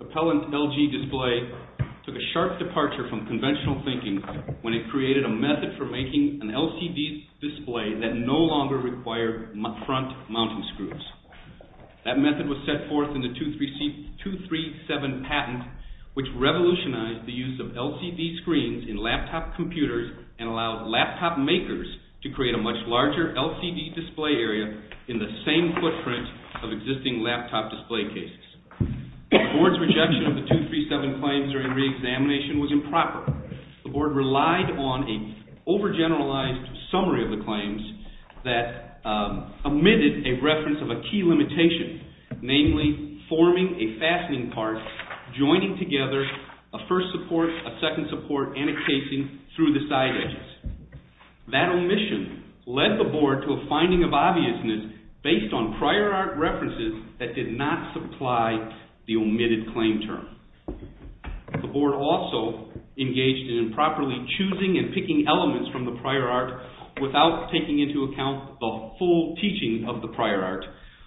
Appellant LG Display took a sharp departure from conventional thinking when it created a method for making an LCD display that no longer required front mounting screws. That method was set forth in the 237 patent which revolutionized the use of LCD screens in laptop computers and allowed laptop makers to create a much larger LCD display area in the same footprint of existing laptop display cases. The board's rejection of the 237 claims during the over-generalized summary of the claims that omitted a reference of a key limitation, namely forming a fastening part joining together a first support, a second support, and a casing through the side edges. That omission led the board to a finding of obviousness based on prior art references that did not supply the omitted claim term. The board also engaged in improperly choosing and picking elements from the prior art without taking into account the full teaching of the prior art,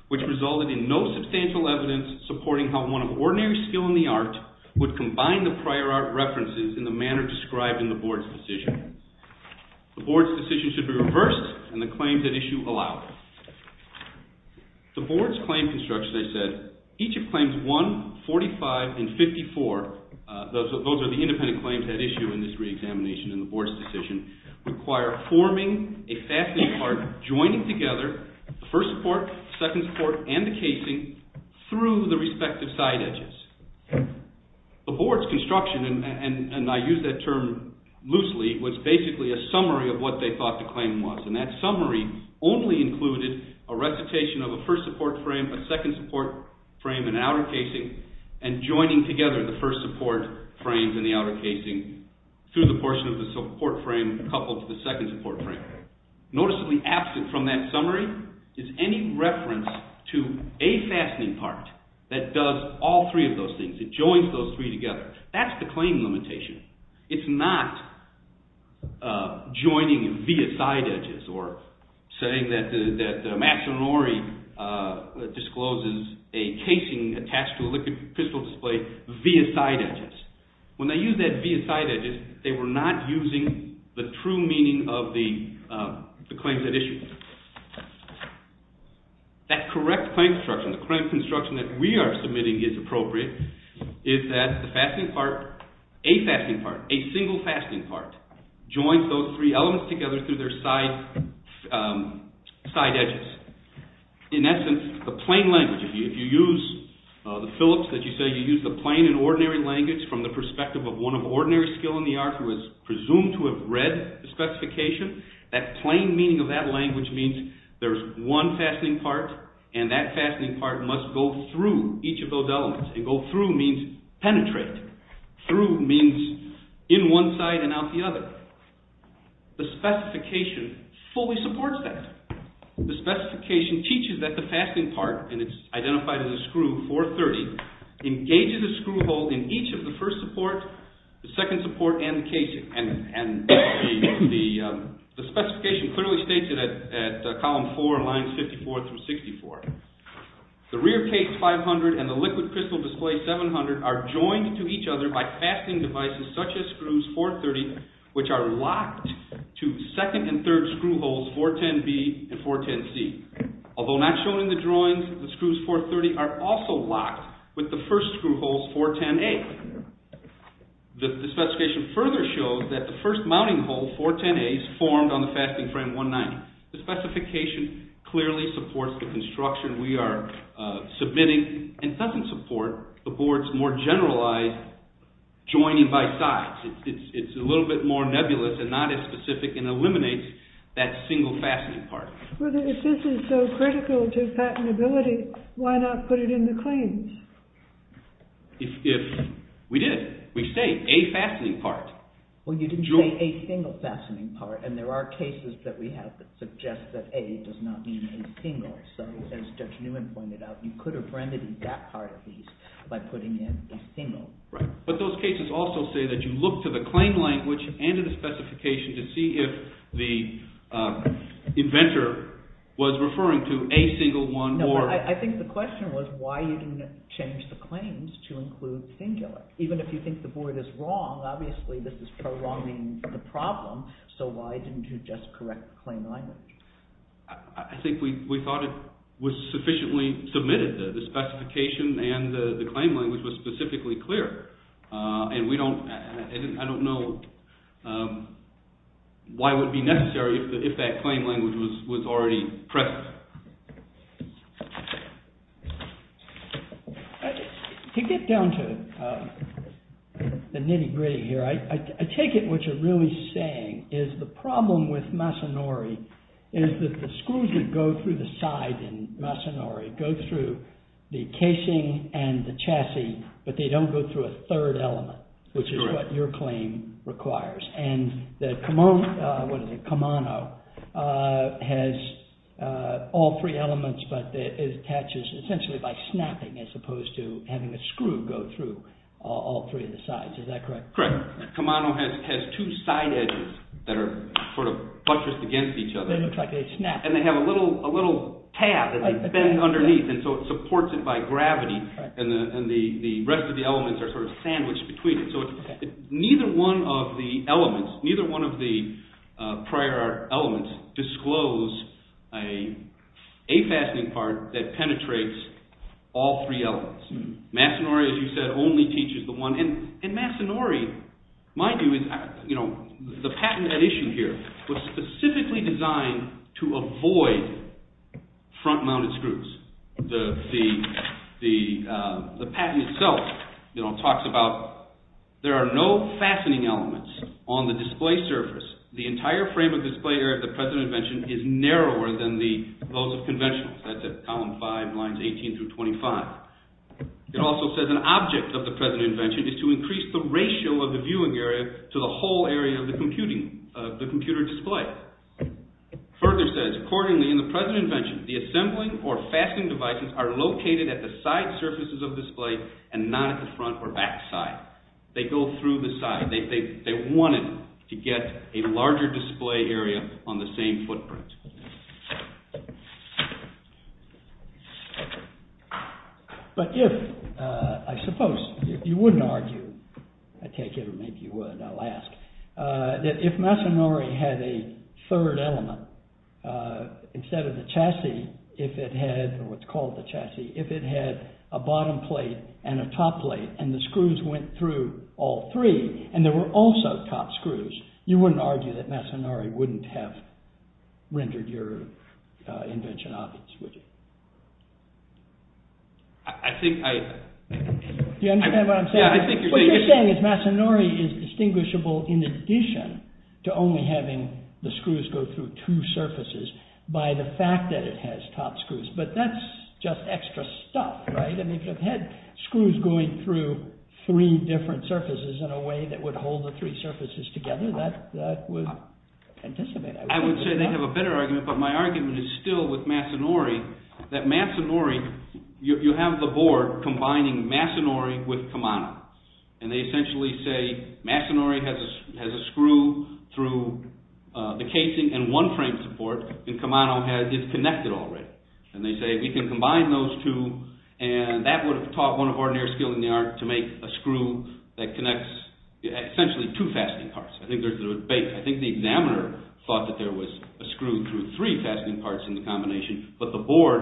which resulted in no substantial evidence supporting how one of ordinary skill in the art would combine the prior art references in the manner described in the board's decision. The board's decision should be reversed and the claims at issue allowed. The board's claim construction, as I said, each of claims 1, 45, and 54, those are the independent claims at issue in this re-examination in the board's decision, require forming a fastening part joining together the first support, second support, and the casing through the respective side edges. The board's construction, and I use that term loosely, was basically a summary of what they thought the claim was, and that summary only included a recitation of a first support frame, a second support frame, and an outer casing and joining together the first support frames and the outer casing through the portion of the support frame coupled to the second support frame. Noticeably absent from that summary is any reference to a fastening part that does all three of those things, it joins those three together. That's the claim limitation. It's not joining via side edges or saying that Mastronori discloses a casing attached to a liquid pistol display via side edges. When they used that via side edges, they were not using the true meaning of the claims at issue. That correct claim construction, the claim construction that we are submitting is appropriate, is that the fastening part, a fastening part, a single fastening part joins those three elements together through their side edges. In essence, the plain language, if you use the Phillips, as you say, you use the plain and ordinary language from the perspective of one of ordinary skill in the art who is presumed to have read the specification, that plain meaning of that language means there's one fastening part and that fastening part must go through each of those elements, and go through means penetrate, through means in one side and out the other. The specification fully supports that. The specification teaches that the fastening part, and it's identified as a screw, 430, engages a screw hole in each of the first support, the second support, and the casing, and the specification clearly states it at column four, lines 54 through 64. The rear case 500 and the liquid pistol display 700 are joined to each other by fastening devices such as screws 430, which are locked to second and third screw holes 410B and 410C. Although not shown in the drawings, the screws 430 are also locked with the first screw holes 410A. The specification further shows that the first mounting hole, 410A, is formed on the fastening frame 190. The specification clearly supports the construction we are submitting and doesn't support the board's more generalized joining by sides. It's a little bit more nebulous and not as specific and eliminates that single fastening part. If this is so critical to patentability, why not put it in the claims? We did. We say a fastening part. Well, you didn't say a single fastening part, and there are cases that we have that suggest that a does not mean a single, so as Judge Newman pointed out, you could have rendered that part of these by putting in a single. But those cases also say that you look to the claim language and to the specification to see if the inventor was referring to a single one or... No, I think the question was why you didn't change the claims to include singular. Even if you think the board is wrong, obviously this is prolonging the problem, so why didn't you just correct the claim language? I think we thought it was sufficiently submitted. The specification and the claim language was specifically clear, and we don't... I don't know why it would be necessary if that claim language was already present. To get down to the nitty-gritty here, I take it what you're really saying is the problem with Masanori is that the screws that go through the side in Masanori go through the casing and the chassis, but they don't go through a third element, which is what your claim And the Kamano has all three elements, but it attaches essentially by snapping as opposed to having a screw go through all three of the sides. Is that correct? Correct. The Kamano has two side edges that are sort of buttressed against each other. They look like they snap. And they have a little tab that they bend underneath, and so it supports it by gravity, and the rest of the elements are sort of sandwiched between it. So neither one of the elements, neither one of the prior elements disclose a fastening part that penetrates all three elements. Masanori, as you said, only teaches the one. And Masanori, my view is, you know, the patent edition here was specifically designed to avoid front-mounted screws. The patent itself talks about there are no fastening elements on the display surface. The entire frame of display area of the present invention is narrower than those of conventional. That's at column 5, lines 18 through 25. It also says an object of the present invention is to increase the ratio of the viewing area to the whole area of the computer display. Further says, accordingly in the present invention, the assembling or fastening devices are located at the side surfaces of display and not at the front or back side. They go through the side. They wanted to get a larger display area on the same footprint. But if, I suppose, if you wouldn't argue, I take it, or maybe you would, I'll ask, that if Masanori had a third element instead of the chassis, if it had what's called the chassis, if it had a bottom plate and a top plate and the screws went through all three and there were also top screws, you wouldn't argue that Masanori wouldn't have rendered your invention obvious, would you? I think I… Do you understand what I'm saying? Yeah, I think you're saying… What you're saying is Masanori is distinguishable in addition to only having the screws go through two surfaces by the fact that it has top screws. But that's just extra stuff, right? If it had screws going through three different surfaces in a way that would hold the three surfaces together, that would anticipate… I would say they have a better argument, but my argument is still with Masanori, that Masanori, you have the board combining Masanori with Kamano. And they essentially say Masanori has a screw through the casing and one frame support, and Kamano is connected already. And they say we can combine those two and that would have taught one of our near skill in the art to make a screw that connects essentially two fastening parts. I think there's a debate. I think the examiner thought that there was a screw through three fastening parts in the combination, but the board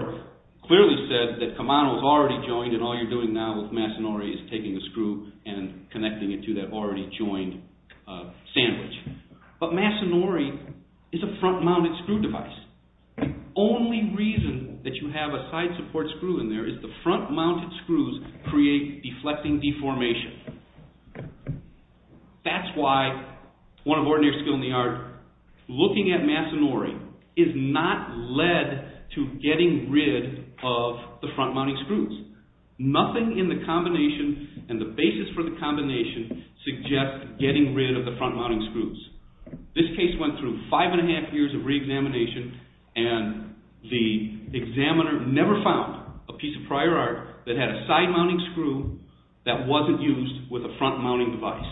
clearly said that Kamano is already joined and all you're doing now with Masanori is taking a screw and connecting it to that already joined sandwich. But Masanori is a front mounted screw device. The only reason that you have a side support screw in there is the front mounted screws create deflecting deformation. That's why one of our near skill in the art, looking at Masanori, is not led to getting rid of the front mounting screws. Nothing in the combination and the basis for the combination suggests getting rid of the front mounting screws. This case went through five and a half years of re-examination and the examiner never found a piece of prior art that had a side mounting screw that wasn't used with a front mounting device.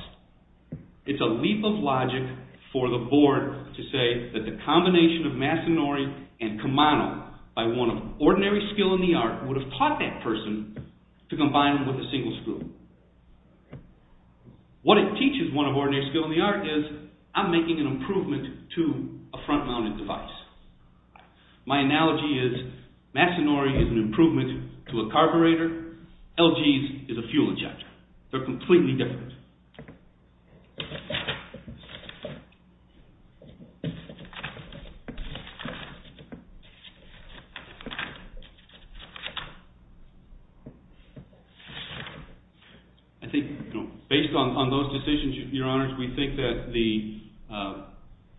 It's a leap of logic for the board to say that the combination of Masanori and Kamano by one of ordinary skill in the art would have taught that person to combine them with a single screw. What it teaches one of ordinary skill in the art is I'm making an improvement to a front mounted device. My analogy is Masanori is an improvement to a carburetor, LG's is a fuel injector. They're completely different. I think based on those decisions, your honors, we think that the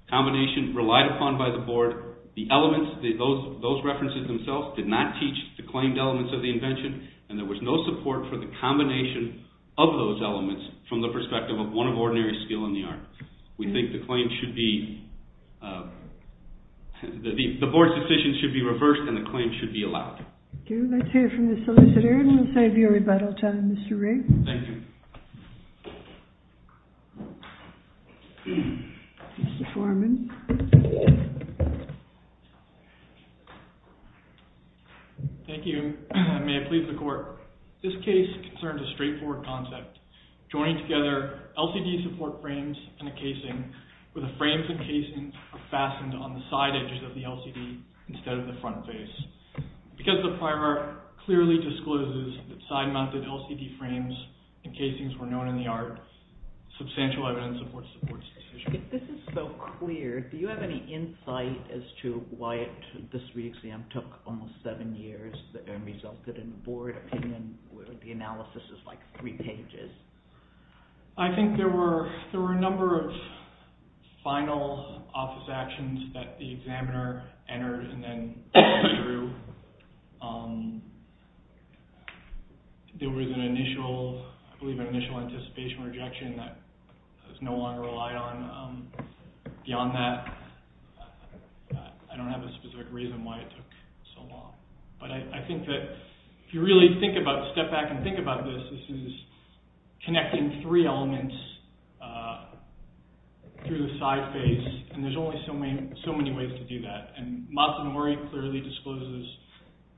combination relied upon by the board, the elements, those references themselves did not teach the claimed elements of the invention and there was no support for the combination of those elements from the perspective of one of ordinary skill in the art. We think the board's decision should be reversed and the claim should be allowed. Thank you. Let's hear from the solicitor and we'll save you a rebuttal time, Mr. Rigg. Thank you. Thank you. May I please the court? This case concerns a straightforward concept, joining together LCD support frames and a casing where the frames and casing are fastened on the side edges of the LCD instead of the front face. Because the primer clearly discloses that side mounted LCD frames and casings were known in the art, substantial evidence supports the board's decision. If this is so clear, do you have any insight as to why this re-exam took almost seven years and resulted in a board opinion where the analysis is like three pages? I think there were a number of final office actions that the examiner entered and then went through. There was an initial, I believe an initial anticipation rejection that was no longer relied on. Beyond that, I don't have a specific reason why it took so long. But I think that if you really step back and think about this, this is connecting three elements through the side face and there's only so many ways to do that. Matsunori clearly discloses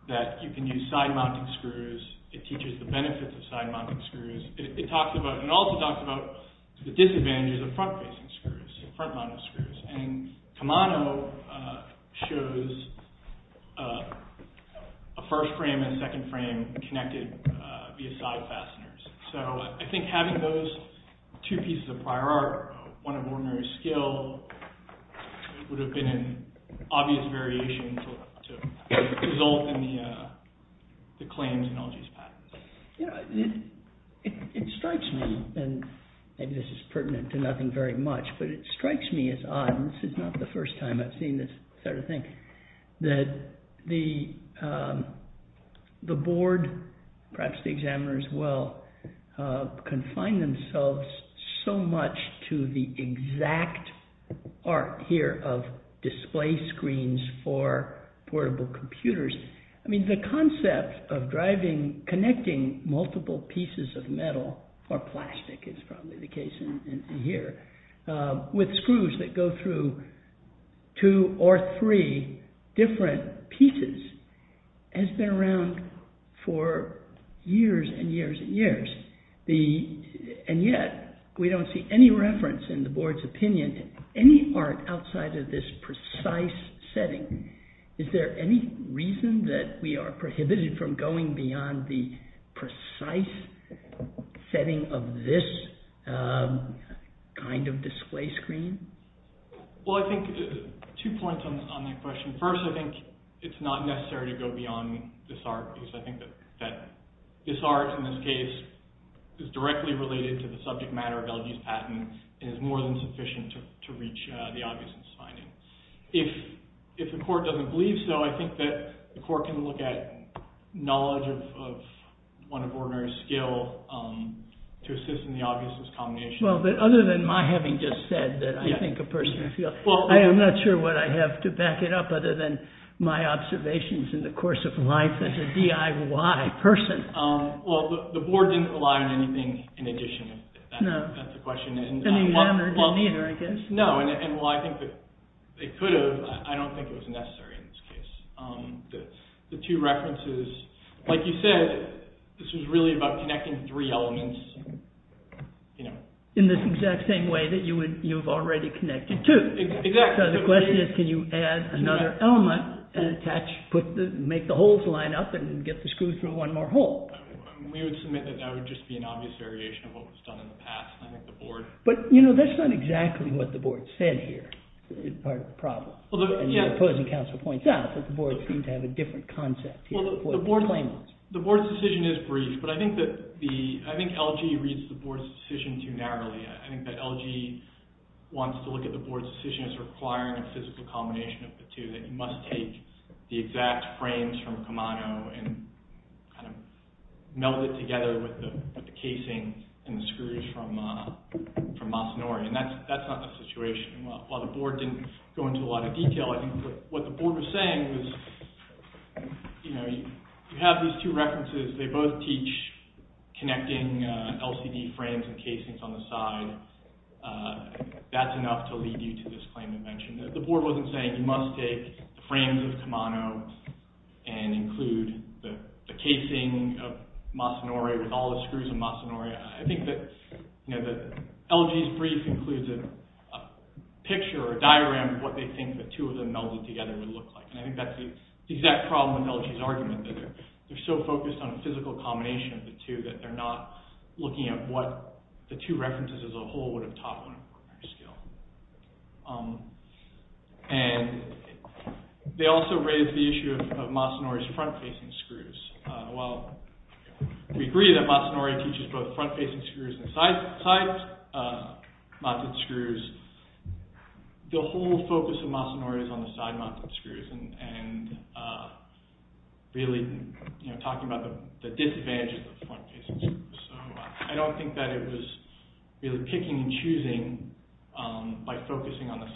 that you can use side mounting screws. It teaches the benefits of side mounting screws. It also talks about the disadvantages of front facing screws, front mounted screws. Kamano shows a first frame and a second frame connected via side fasteners. So I think having those two pieces of prior art, one of ordinary skill, would have been an obvious variation to result in the claims in LG's patent. It strikes me, and maybe this is pertinent to nothing very much, but it strikes me as odd. This is not the first time I've seen this sort of thing. The board, perhaps the examiners as well, confine themselves so much to the exact art here of display screens for portable computers. The concept of connecting multiple pieces of metal or plastic, as is probably the case here, with screws that go through two or three different pieces has been around for years and years and years. And yet, we don't see any reference in the board's opinion to any art outside of this precise setting. Is there any reason that we are prohibited from going beyond the precise setting of this kind of display screen? Well, I think two points on that question. First, I think it's not necessary to go beyond this art because I think that this art, in this case, is directly related to the subject matter of LG's patent and is more than sufficient to reach the obviousness finding. If the court doesn't believe so, I think that the court can look at knowledge of one of Orner's skill to assist in the obviousness combination. Well, but other than my having just said that I think a person feels, I am not sure what I have to back it up other than my observations in the course of life as a DIY person. Well, the board didn't rely on anything in addition. No. That's the question. And the examiner didn't either, I guess. No, and while I think that they could have, I don't think it was necessary in this case. The two references, like you said, this was really about connecting three elements. In this exact same way that you have already connected two. Exactly. So the question is, can you add another element and attach, make the holes line up and get the screws through one more hole? We would submit that that would just be an obvious variation of what was done in the past. But, you know, that's not exactly what the board said here in part of the problem. And the opposing counsel points out that the board seemed to have a different concept here. The board's decision is brief, but I think LG reads the board's decision too narrowly. I think that LG wants to look at the board's decision as requiring a physical combination of the two, that you must take the exact frames from Kamano and kind of meld it together with the casing and the screws from Masanori. And that's not the situation. While the board didn't go into a lot of detail, I think what the board was saying was, you know, you have these two references. They both teach connecting LCD frames and casings on the side. That's enough to lead you to this claim invention. The board wasn't saying you must take the frames of Kamano and include the casing of Masanori with all the screws of Masanori. I think that LG's brief includes a picture or a diagram of what they think the two of them melded together would look like. And I think that's the exact problem with LG's argument, that they're so focused on a physical combination of the two that they're not looking at what the two references as a whole would have taught on a corner scale. And they also raise the issue of Masanori's front-facing screws. While we agree that Masanori teaches both front-facing screws and side-mounted screws, the whole focus of Masanori is on the side-mounted screws and really talking about the disadvantages of front-facing screws. So I don't think that it was really picking and choosing by focusing on the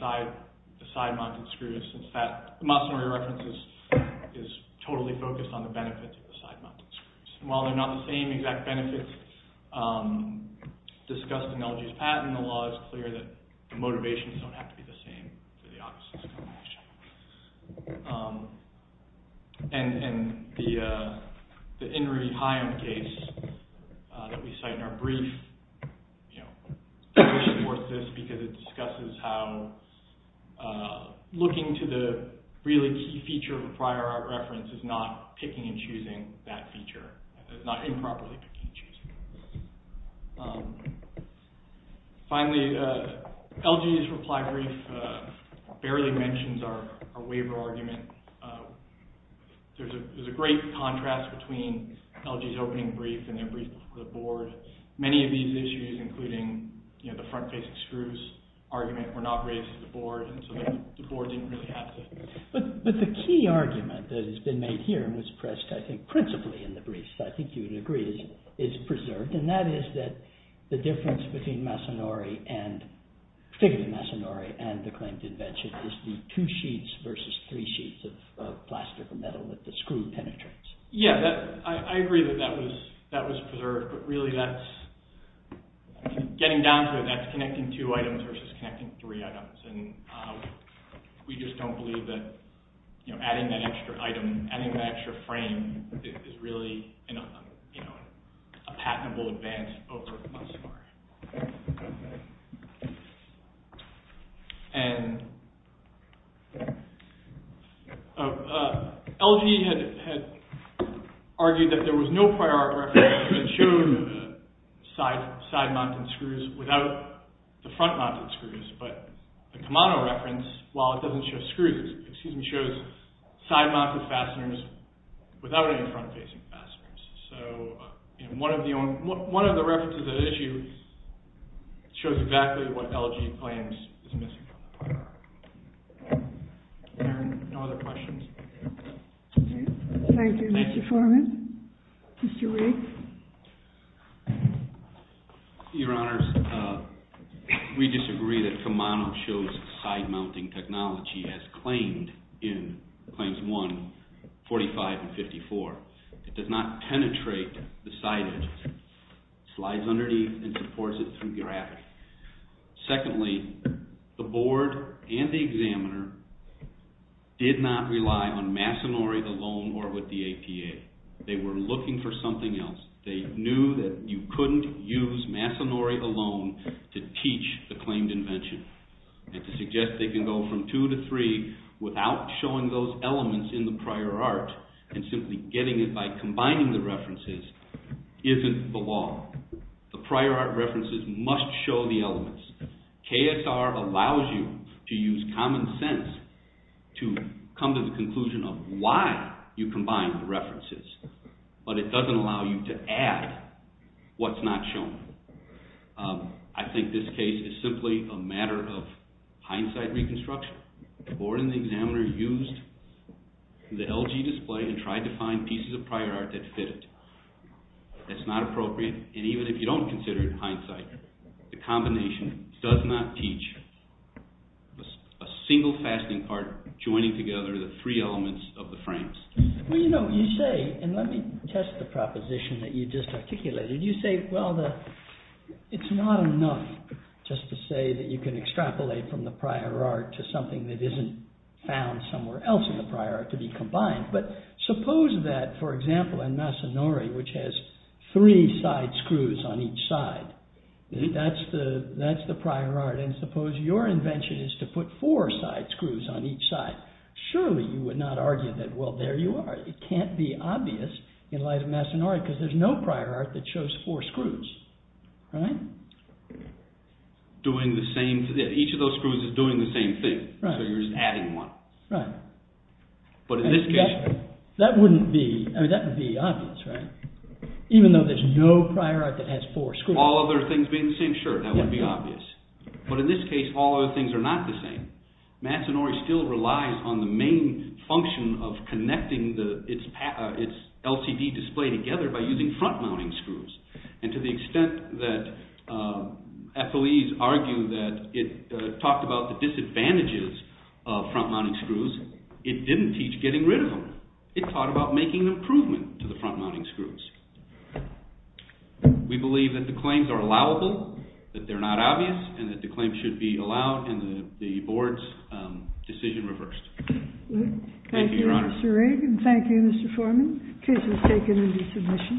side-mounted screws. In fact, Masanori references is totally focused on the benefits of the side-mounted screws. While they're not the same exact benefits discussed in LG's patent, the law is clear that the motivations don't have to be the same for the opposite combination. And the Inri Haim case that we cite in our brief reinforces this, because it discusses how looking to the really key feature of a prior art reference is not picking and choosing that feature. It's not improperly picking and choosing. Finally, LG's reply brief barely mentions our waiver argument. There's a great contrast between LG's opening brief and their brief for the board. Many of these issues, including the front-facing screws argument, were not raised to the board, and so the board didn't really have to. But the key argument that has been made here and was pressed, I think, principally in the brief, so I think you would agree, is preserved, and that is that the difference between Masanori and, particularly Masanori, and the claimed invention is the two sheets versus three sheets of plastic metal that the screw penetrates. Yeah, I agree that that was preserved, but really that's, getting down to it, that's connecting two items versus connecting three items. We just don't believe that adding that extra item, adding that extra frame, is really a patentable advance over Masanori. LG had argued that there was no prior art reference that showed side-mounted screws without the front-mounted screws, but the Kemano reference, while it doesn't show screws, it shows side-mounted fasteners without any front-facing fasteners. So one of the references at issue shows exactly what LG claims is missing. There are no other questions. Thank you, Mr. Foreman. Mr. Riggs. Your Honors, we disagree that Kemano shows side-mounting technology as claimed in Claims 1-45 and 54. It does not penetrate the side edges. It slides underneath and supports it through gravity. Secondly, the board and the examiner did not rely on Masanori alone or with the APA. They were looking for something else. They knew that you couldn't use Masanori alone to teach the claimed invention and to suggest they can go from two to three without showing those elements in the prior art and simply getting it by combining the references isn't the law. The prior art references must show the elements. KSR allows you to use common sense to come to the conclusion of why you combine the references, but it doesn't allow you to add what's not shown. I think this case is simply a matter of hindsight reconstruction. The board and the examiner used the LG display and tried to find pieces of prior art that fit it. It's not appropriate, and even if you don't consider it hindsight, the combination does not teach a single fastening part joining together the three elements of the frames. Well, you know, you say, and let me test the proposition that you just articulated. You say, well, it's not enough just to say that you can extrapolate from the prior art to something that isn't found somewhere else in the prior art to be combined. But suppose that, for example, in Masanori, which has three side screws on each side, that's the prior art, and suppose your invention is to put four side screws on each side. Surely you would not argue that, well, there you are. It can't be obvious in the life of Masanori because there's no prior art that shows four screws. Each of those screws is doing the same thing, so you're just adding one. Right. But in this case... That wouldn't be, I mean, that would be obvious, right? Even though there's no prior art that has four screws. All other things being the same, sure, that wouldn't be obvious. But in this case, all other things are not the same. Masanori still relies on the main function of connecting its LCD display together by using front-mounting screws. And to the extent that FOEs argue that it talked about the disadvantages of front-mounting screws, it didn't teach getting rid of them. It taught about making an improvement to the front-mounting screws. We believe that the claims are allowable, that they're not obvious, and that the claims should be allowed, and the board's decision reversed. Thank you, Your Honor. Thank you, Mr. Rigg, and thank you, Mr. Foreman. The case was taken into submission.